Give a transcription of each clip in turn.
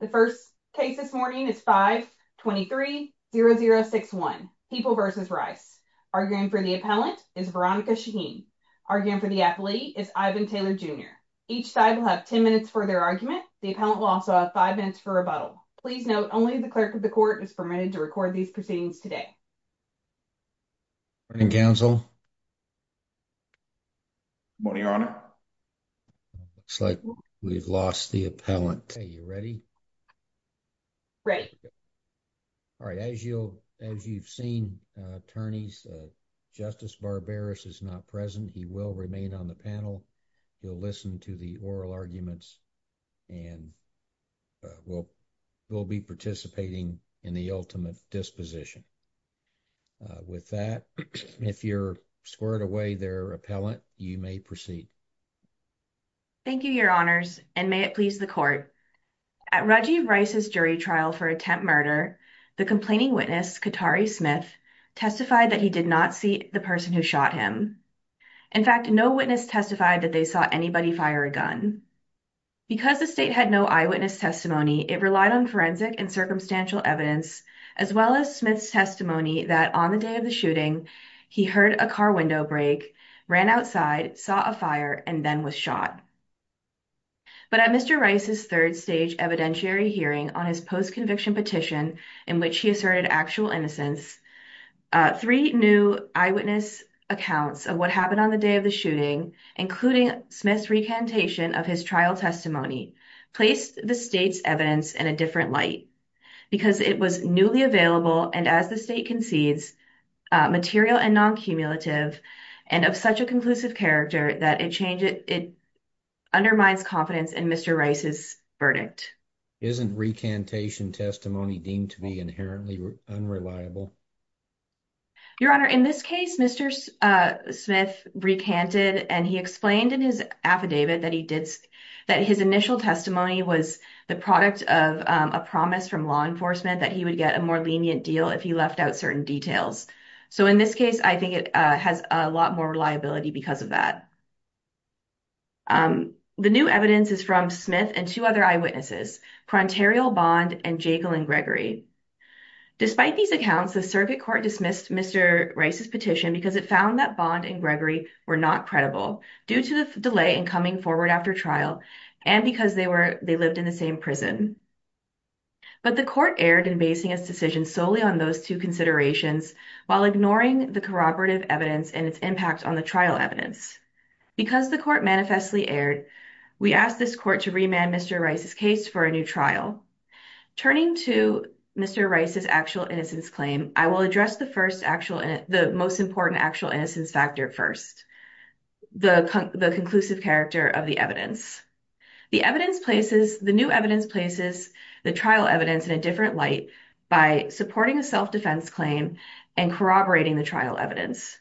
The first case this morning is 5-23-0061, People v. Rice. Arguing for the appellant is Veronica Shaheen. Arguing for the athlete is Ivan Taylor Jr. Each side will have 10 minutes for their argument. The appellant will also have 5 minutes for rebuttal. Please note, only the clerk of the court is permitted to record these proceedings today. Morning, counsel. Morning, your honor. Looks like we've lost the appellant. Are you ready? Ready. All right, as you've seen, attorneys, Justice Barberis is not present. He will remain on the panel. He'll listen to the oral arguments and will be participating in the ultimate disposition. With that, if you're squared away, there, appellant, you may proceed. Thank you, your honors, and may it please the court. At Reggie Rice's jury trial for attempt murder, the complaining witness, Katari Smith, testified that he did not see the person who shot him. In fact, no witness testified that they saw anybody fire a gun. Because the state had no eyewitness testimony, it relied on forensic and circumstantial evidence, as well as Smith's testimony that on the day of the shooting, he heard a car window break, ran outside, saw a fire, and then was shot. But at Mr. Rice's third stage evidentiary hearing on his post-conviction petition, in which he asserted actual innocence, three new eyewitness accounts of what happened on the day of the shooting, including Smith's recantation of his trial testimony, placed the state's evidence in a different light, because it was newly available, and as the state concedes, material and non-cumulative, and of such a conclusive character that it undermines confidence in Mr. Rice's verdict. Isn't recantation testimony deemed to be inherently unreliable? Your Honor, in this case, Mr. Smith recanted, and he explained in his affidavit that his initial testimony was the product of a promise from law enforcement that he would get a more lenient deal if he left out certain details. So in this case, I think it has a lot more reliability because of that. The new evidence is from Smith and two other eyewitnesses, Prontarial Bond and Jagel and Gregory. Despite these accounts, the circuit court dismissed Mr. Rice's petition because it found that Bond and Gregory were not credible due to the delay in coming forward after trial and because they lived in the same prison. But the court erred in basing its decision solely on those two considerations while ignoring the corroborative evidence and its impact on the trial evidence. Because the court manifestly erred, we asked this court to remand Mr. Rice's case for a new trial. Turning to Mr. Rice's actual innocence claim, I will address the most important actual innocence factor first, the conclusive character of the evidence. The new evidence places the trial evidence in a different light by supporting a self-defense claim and corroborating the trial evidence.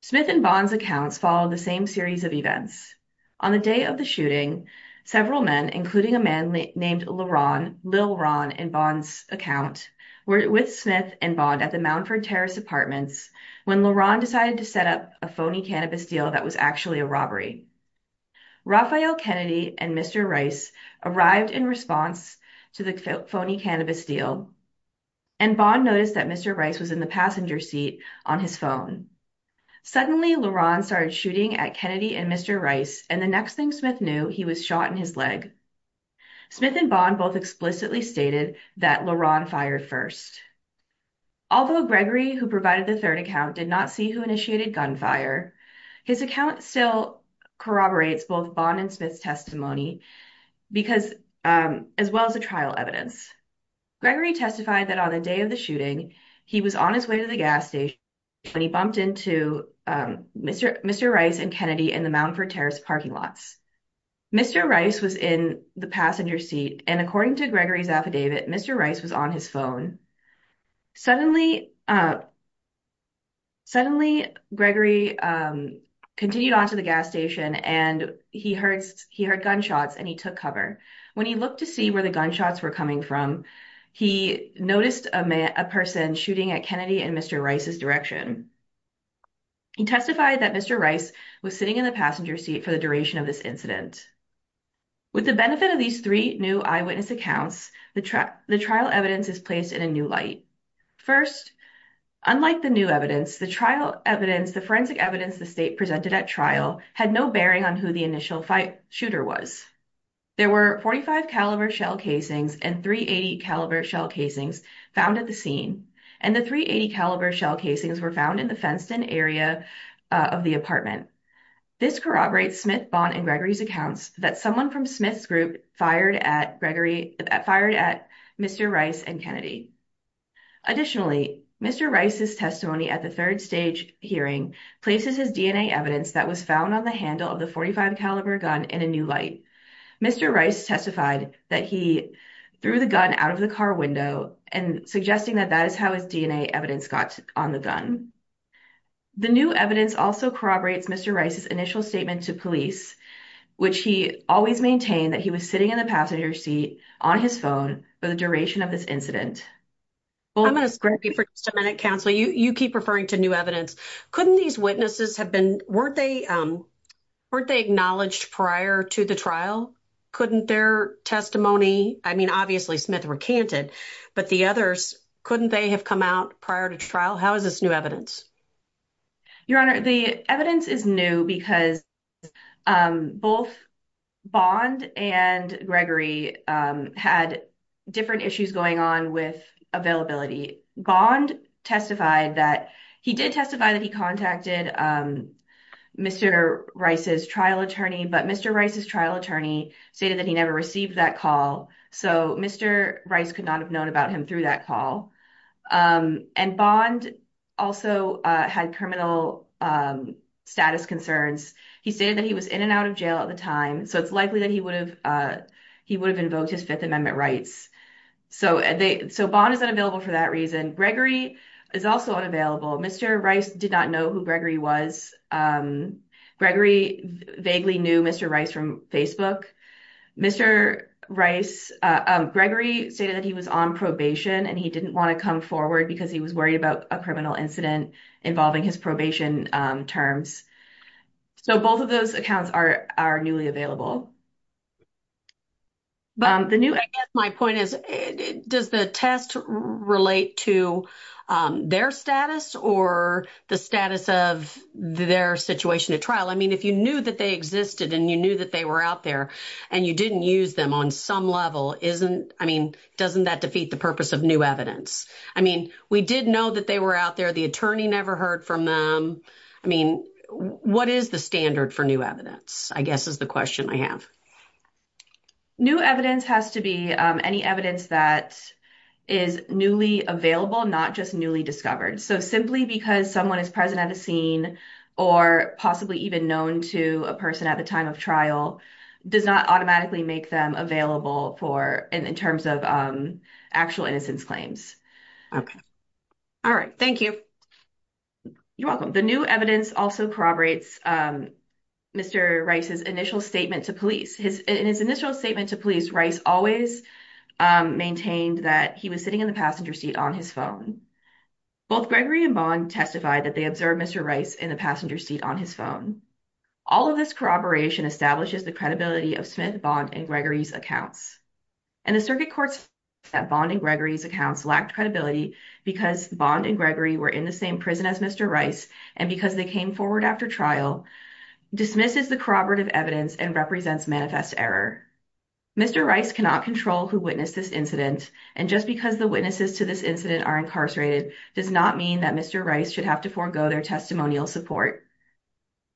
Smith and Bond's accounts follow the same series of events. On the day of the shooting, several men, including a man named Leron, Lil Ron in Bond's account, were with Smith and Bond at the Moundford Terrace Apartments when Leron decided to set up a phony cannabis deal that was actually a robbery. Raphael Kennedy and Mr. Rice arrived in response to the phony cannabis deal and Bond noticed that Mr. Rice was in the passenger seat on his phone. Suddenly, Leron started shooting at Kennedy and Mr. Rice and the next thing Smith knew, he was shot in his leg. Smith and Bond both explicitly stated that Leron fired first. Although Gregory, who provided the third account, did not see who initiated gunfire, his account still corroborates both Bond and Smith's testimony as well as the trial evidence. Gregory testified that on the day of the shooting, he was on his way to the gas station when he bumped into Mr. Rice and Kennedy in the Moundford Terrace parking lots. Mr. Rice was in the passenger seat and according to Gregory's affidavit, Mr. Rice was on his phone. Suddenly, Gregory continued on to the gas station and he heard gunshots and he took cover. When he looked to see where the gunshots were coming from, he noticed a person shooting at Kennedy and Mr. Rice's direction. He testified that Mr. Rice was sitting in the passenger seat for the duration of this incident. With the benefit of these three new eyewitness accounts, the trial evidence is placed in a new light. First, unlike the new evidence, the forensic evidence the state presented at trial had no bearing on who the initial shooter was. There were 45-caliber shell casings and 380-caliber shell casings found at the scene and the 380-caliber shell casings were found in the fenced-in area of the apartment. This corroborates Smith, Bond, and Gregory's accounts that someone from Smith's group fired at Mr. Rice and Kennedy. Additionally, Mr. Rice's testimony at the third stage hearing places his DNA evidence that was found on the handle of the 45-caliber gun in a new light. Mr. Rice testified that he threw the gun out of the car window and suggesting that that is how his DNA evidence got on the gun. The new evidence also corroborates Mr. Rice's initial statement to police, which he always maintained that he was sitting in the passenger seat on his phone for the duration of this incident. I'm going to scrap you for just a minute, counsel. You keep referring to new evidence. Couldn't these witnesses have been, weren't they, weren't they acknowledged prior to the trial? Couldn't their testimony, I mean obviously Smith recanted, but the others, couldn't they have come out prior to trial? How is this new evidence? Your Honor, the evidence is new because both Bond and Gregory had different issues going on with availability. Bond testified that, he did testify that he contacted Mr. Rice's trial attorney, but Mr. Rice's trial attorney stated that he never received that call, so Mr. Rice could not have had criminal status concerns. He stated that he was in and out of jail at the time, so it's likely that he would have, he would have invoked his Fifth Amendment rights. So they, so Bond is unavailable for that reason. Gregory is also unavailable. Mr. Rice did not know who Gregory was. Gregory vaguely knew Mr. Rice from Facebook. Mr. Rice, Gregory stated that he was on probation and he didn't want to come forward because he was worried about a criminal incident involving his probation terms. So both of those accounts are, are newly available. But the new, I guess my point is, does the test relate to their status or the status of their situation at trial? I mean if you knew that they existed and you knew that they were out there and you didn't use them on some level, isn't, I mean, doesn't that defeat the purpose of new evidence? I mean, we did know that they were out there. The attorney never heard from them. I mean, what is the standard for new evidence, I guess is the question I have. New evidence has to be any evidence that is newly available, not just newly discovered. So simply because someone is present at a scene or possibly even known to a person at the time of trial, does not automatically make them available for, in terms of actual innocence claims. All right. Thank you. You're welcome. The new evidence also corroborates Mr. Rice's initial statement to police. In his initial statement to police, Rice always maintained that he was sitting in the passenger seat on his phone. Both Gregory and Bowen testified that they observed Mr. Rice in the passenger seat on his phone. All of this corroboration establishes the credibility of Smith, Bond, and Gregory's accounts. And the circuit courts found that Bond and Gregory's accounts lacked credibility because Bond and Gregory were in the same prison as Mr. Rice and because they came forward after trial dismisses the corroborative evidence and represents manifest error. Mr. Rice cannot control who witnessed this incident and just because the witnesses to this incident are incarcerated does not mean that Mr. Rice should have to forego their testimonial support.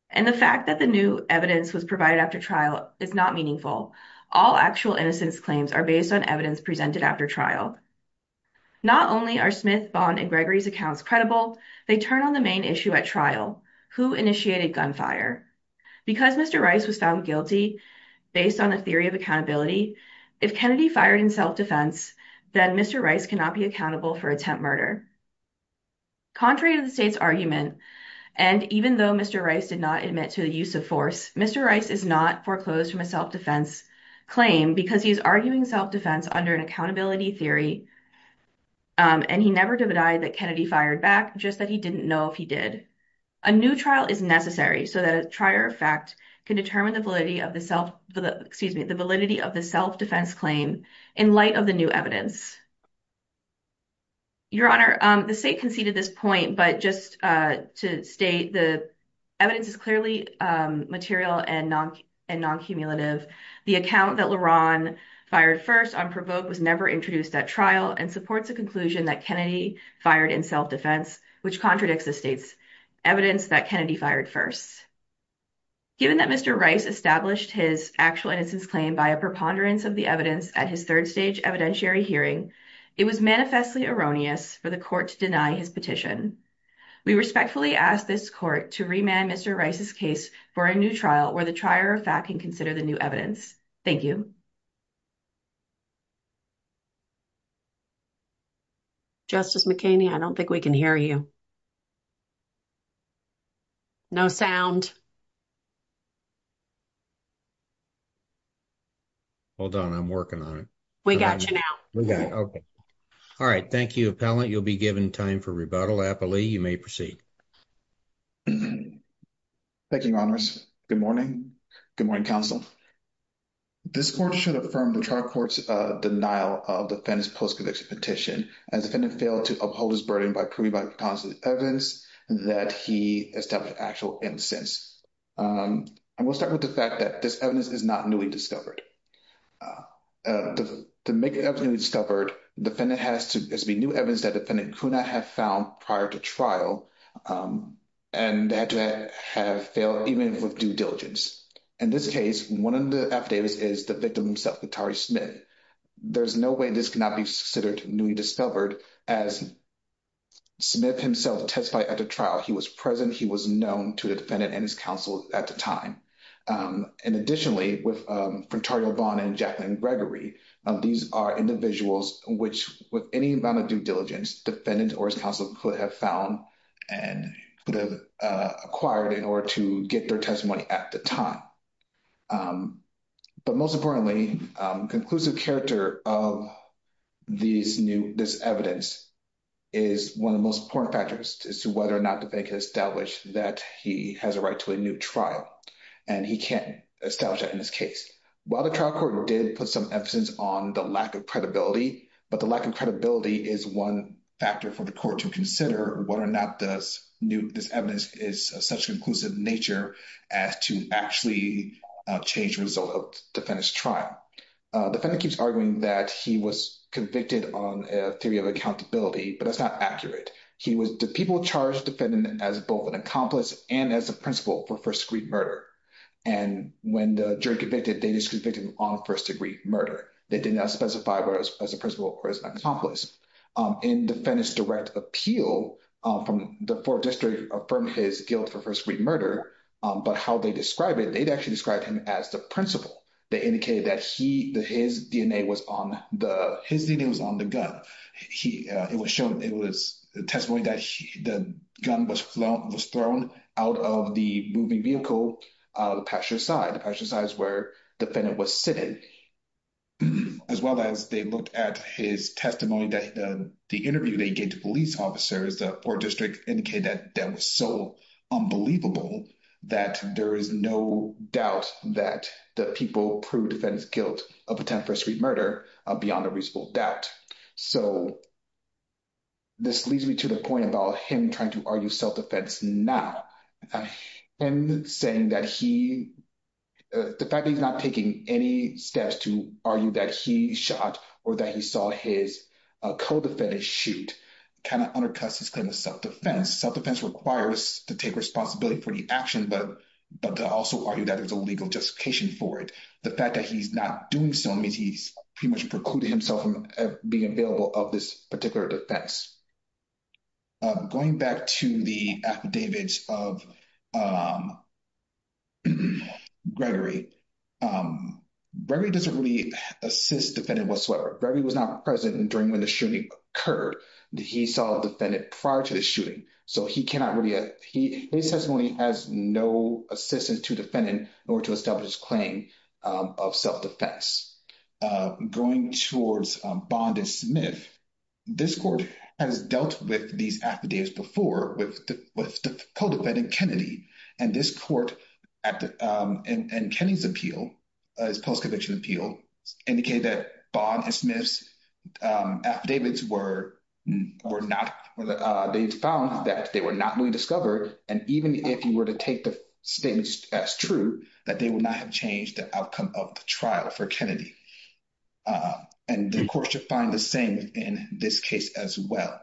And the fact that the new evidence was provided after trial is not meaningful. All actual innocence claims are based on evidence presented after trial. Not only are Smith, Bond, and Gregory's accounts credible, they turn on the main issue at trial. Who initiated gunfire? Because Mr. Rice was found guilty based on a theory of accountability, if Kennedy fired in self-defense, then Mr. Rice cannot be accountable for attempt murder. Contrary to the state's argument and even though Mr. Rice did not admit to the use of force, Mr. Rice is not foreclosed from a self-defense claim because he's arguing self-defense under an accountability theory and he never denied that Kennedy fired back, just that he didn't know if he did. A new trial is necessary so that a trier of fact can determine the validity of the self, excuse me, the validity of the self-defense claim in light of the new evidence. Your Honor, the state conceded this point, but just to state the evidence is clearly material and non-cumulative. The account that Laron fired first on provoke was never introduced at trial and supports a conclusion that Kennedy fired in self-defense, which contradicts the state's evidence that Kennedy fired first. Given that Mr. Rice established his actual innocence claim by a preponderance of the evidence at his third stage evidentiary hearing, it was manifestly erroneous for the court to deny his petition. We respectfully ask this court to remand Mr. Rice's case for a new trial where the trier of fact can consider the new evidence. Thank you. Justice McKinney, I don't think we can hear you. No sound. Hold on, I'm working on it. We got you now. We got it, okay. All right, thank you, appellant. You'll be given time for rebuttal. Appellee, you may proceed. Thank you, Your Honors. Good morning. Good morning, counsel. This court should affirm the trial court's denial of the defendant's post-conviction petition as the defendant failed to uphold his burden by proving by the evidence that he established actual innocence. And we'll start with the fact that this evidence is not newly discovered. To make it evidently discovered, the defendant has to, there's to be new evidence that defendant could not have found prior to trial and that to have failed even with due diligence. In this case, one of the affidavits is the victim himself, Katari Smith. There's no way this cannot be considered newly discovered as Smith himself testified at the trial. He was present, he was known to the defendant and his counsel at the time. And additionally, with Frentario Vaughn and Jacqueline Gregory, these are individuals which with any amount of due diligence, defendant or his counsel could have found and could have acquired in order to get their testimony at the time. But most importantly, conclusive character of this evidence is one of the most important factors as to whether or not the defendant could establish that he has a right to a new trial. And he can't establish that in this case. While the trial court did put some emphasis on the lack of credibility, but the lack of credibility is one factor for the court to consider whether or not this new, this evidence is such a conclusive nature as to actually change the result of defendant's trial. Defendant keeps arguing that he was convicted on a theory of accountability, but that's not accurate. He was, the people charged defendant as both an accomplice and as a principal for first-degree murder. And when the jury convicted, they just convicted him on first-degree murder. They did not specify whether as a principal or as an accomplice. In defendant's direct appeal from the fourth district affirmed his guilt for first-degree murder, but how they describe it, they'd actually described him as the principal. They indicated that his DNA was on the gun. It was shown, it was a testimony that the gun was thrown out of the moving vehicle, the pasture side. The pasture side is where defendant was sitting. As well as they looked at his testimony, that the interview they gave to police officers, the fourth district indicated that that was so unbelievable that there is no doubt that the people proved defendant's guilt of attempt for first-degree murder beyond a reasonable doubt. So this leads me to the point about him trying to argue self-defense now. The fact that he's not taking any steps to argue that he shot or that he saw his co-defendant shoot kind of undercuts his claim to self-defense. Self-defense requires to take responsibility for the action, but to also argue that there's a legal justification for it. The fact that he's not doing so means he's pretty much precluded himself being available of this particular defense. Going back to the affidavits of Gregory, Gregory doesn't really assist defendant whatsoever. Gregory was not present during when the shooting occurred. He saw a defendant prior to the shooting. So his testimony has no assistance to defendant in order to establish his claim of self-defense. Going towards Bond and Smith, this court has dealt with these affidavits before with the co-defendant, Kennedy. And this court and Kennedy's appeal, his post-conviction appeal, indicated that Bond and Smith's affidavits were not, they found that they were not newly discovered. And even if you were to take the statements as true, that they would not have changed the outcome of the trial for Kennedy. And the court should find the same in this case as well.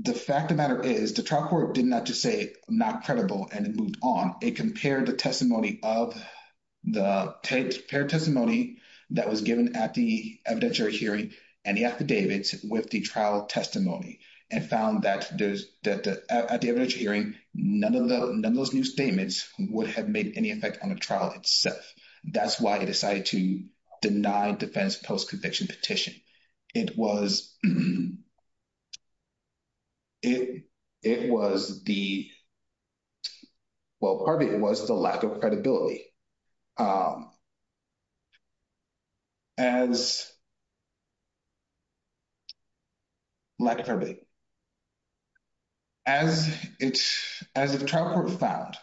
The fact of the matter is the trial court did not just say not credible and it moved on. It compared the testimony of the paired testimony that was given at the evidentiary hearing and the affidavits with the trial testimony and found that at the evidentiary hearing, none of those new statements would have made any effect on the trial itself. That's why he decided to deny defense post-conviction petition. It was the, well, part of it was the lack of credibility. As lack of credibility. As the trial court found,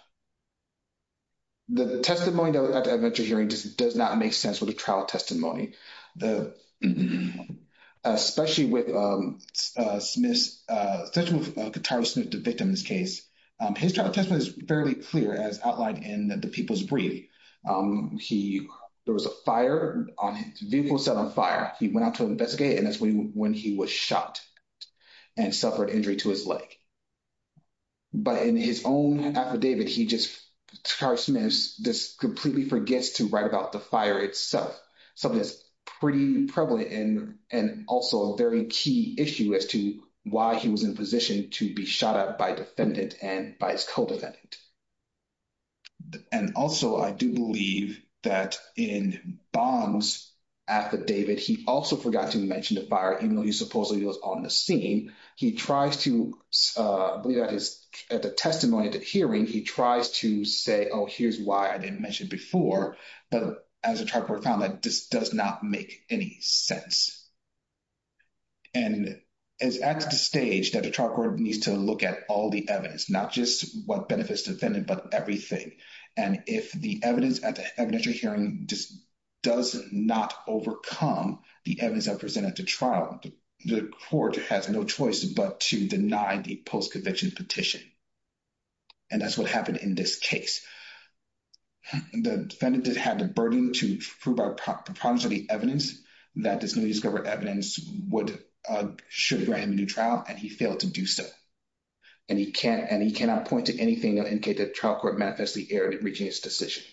the testimony at the evidentiary hearing does not make sense with the trial testimony. Especially with Kataru Smith, the victim in this case, his trial testimony is fairly clear as outlined in the people's brief. There was a fire, a vehicle set on fire. He went out to investigate and that's when he was shot. And suffered injury to his leg. But in his own affidavit, he just, Kataru Smith just completely forgets to write about the fire itself. Something that's pretty prevalent and also a very key issue as to why he was in position to be shot at by defendant and by his co-defendant. And also I do believe that in Baum's affidavit, he also forgot to mention the fire, even though he supposedly was on the scene. He tries to, I believe at the testimony at the hearing, he tries to say, oh, here's why I didn't mention before. But as the trial court found that this does not make any sense. And it's at the stage that the trial court needs to look at all the evidence, not just what benefits the defendant, but everything. And if the evidence at the evidentiary hearing does not overcome the evidence that presented at the trial, the court has no choice but to deny the post-conviction petition. And that's what happened in this case. The defendant did have the burden to prove by proposal of the evidence that this newly discovered evidence should grant him a new trial, and he failed to do so. And he cannot point to anything that the trial court manifestly aired in reaching his decision.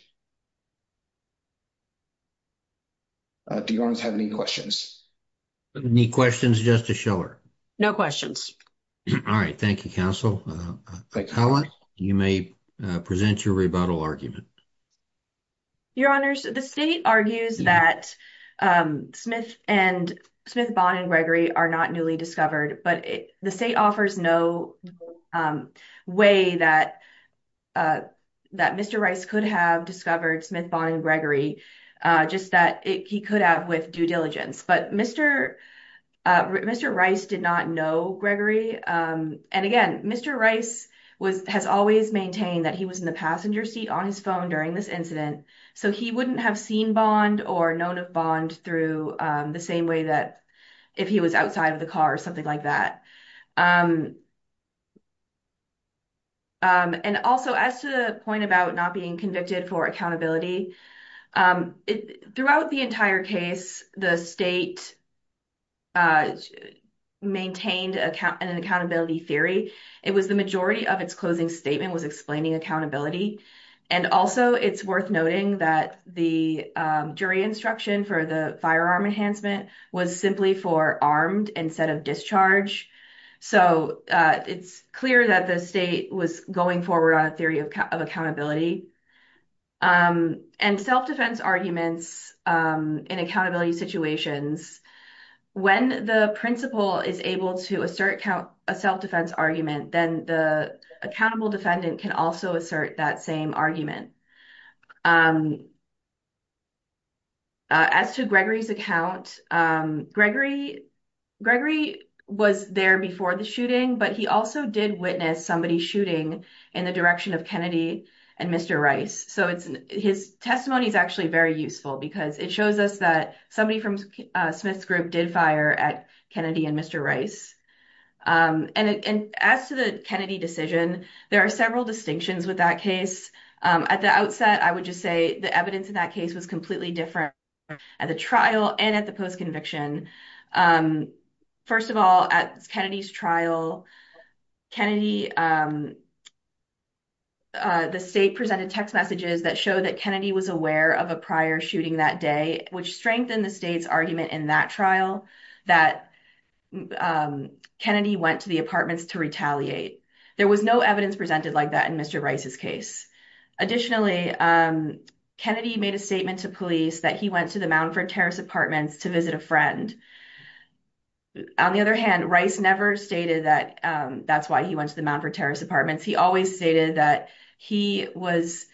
Do you want to have any questions? Any questions, Justice Schiller? No questions. All right. Thank you, counsel. Helen, you may present your rebuttal argument. Your honors, the state argues that Smith and Smith, Bond and Gregory are not newly discovered, but the state offers no way that that Mr. Rice could have discovered Smith, Bond, and Gregory, just that he could have with due diligence. But Mr. Rice did not know Gregory. And again, Mr. Rice has always maintained that he was in the passenger seat on his phone during this incident, so he wouldn't have seen Bond or known of Bond through the same way that if he was outside of the car or something like that. And also, as to the point about not being convicted for accountability, throughout the entire case, the state maintained an accountability theory. It was the majority of its closing statement was explaining accountability. And also, it's worth noting that the jury instruction for the firearm enhancement was simply for armed instead of discharge. So it's clear that the state was going forward on a theory of accountability. And self-defense arguments in accountability situations, when the principal is able to assert a self-defense argument, then the accountable defendant can also assert that same argument. As to Gregory's account, Gregory was there before the shooting, but he also did witness somebody shooting in the direction of Kennedy and Mr. Rice. So his testimony is actually very useful because it shows us that somebody from Smith's group did fire at Kennedy and Mr. Rice. And as to the Kennedy decision, there are several distinctions with that case. At the outset, I would just say the evidence in that case was completely different at the trial and at the post-conviction. First of all, at Kennedy's trial, the state presented text messages that showed that Kennedy was aware of a prior shooting that day, which strengthened the state's argument in that trial that Kennedy went to the apartments to retaliate. There was no evidence presented like that in Mr. Rice's case. Additionally, Kennedy made a statement to police that he went to the Mountford Terrace apartments to visit a friend. On the other hand, Rice never stated that that's why he went to the Mountford Terrace apartments. He always stated that he was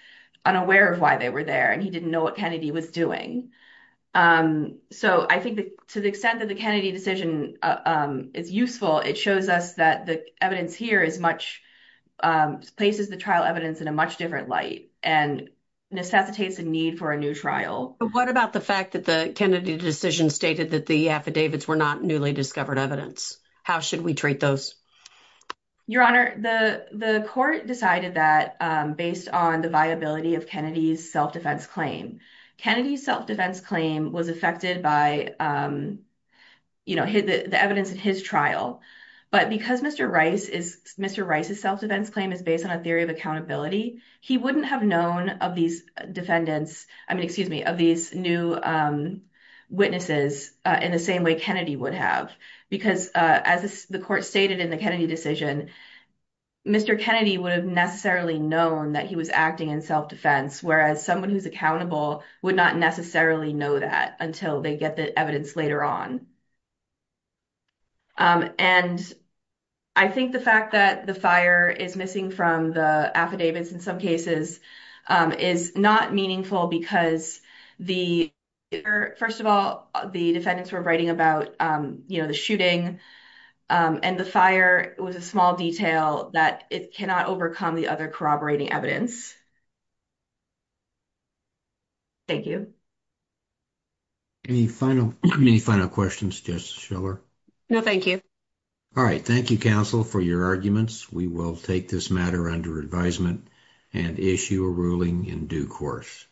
unaware of why they were there, and he didn't know what Kennedy was doing. So I think to the extent that the Kennedy decision is useful, it shows us that the evidence here places the trial evidence in a much different light and necessitates a need for a new trial. But what about the fact that the Kennedy decision stated that the affidavits were not newly discovered evidence? How should we treat those? Your Honor, the court decided that based on the viability of Kennedy's self-defense claim. Kennedy's self-defense claim was affected by the evidence in his trial. But because Mr. Rice's self-defense claim is based on a theory of accountability, he wouldn't have known of these defendants, I mean, excuse me, of these new witnesses in the same way Kennedy would have. Because as the court stated in the Kennedy decision, Mr. Kennedy would have necessarily known that he was acting in self-defense, whereas someone who's accountable would not necessarily know that until they get the evidence later on. And I think the fact that the fire is missing from the affidavits in some cases is not meaningful because the, first of all, the defendants were writing about, you know, the shooting and the fire. It was a small detail that it cannot overcome the other corroborating evidence. Thank you. Any final questions? Justice Schiller? No, thank you. All right. Thank you, counsel, for your arguments. We will take this matter under advisement and issue a ruling in due course.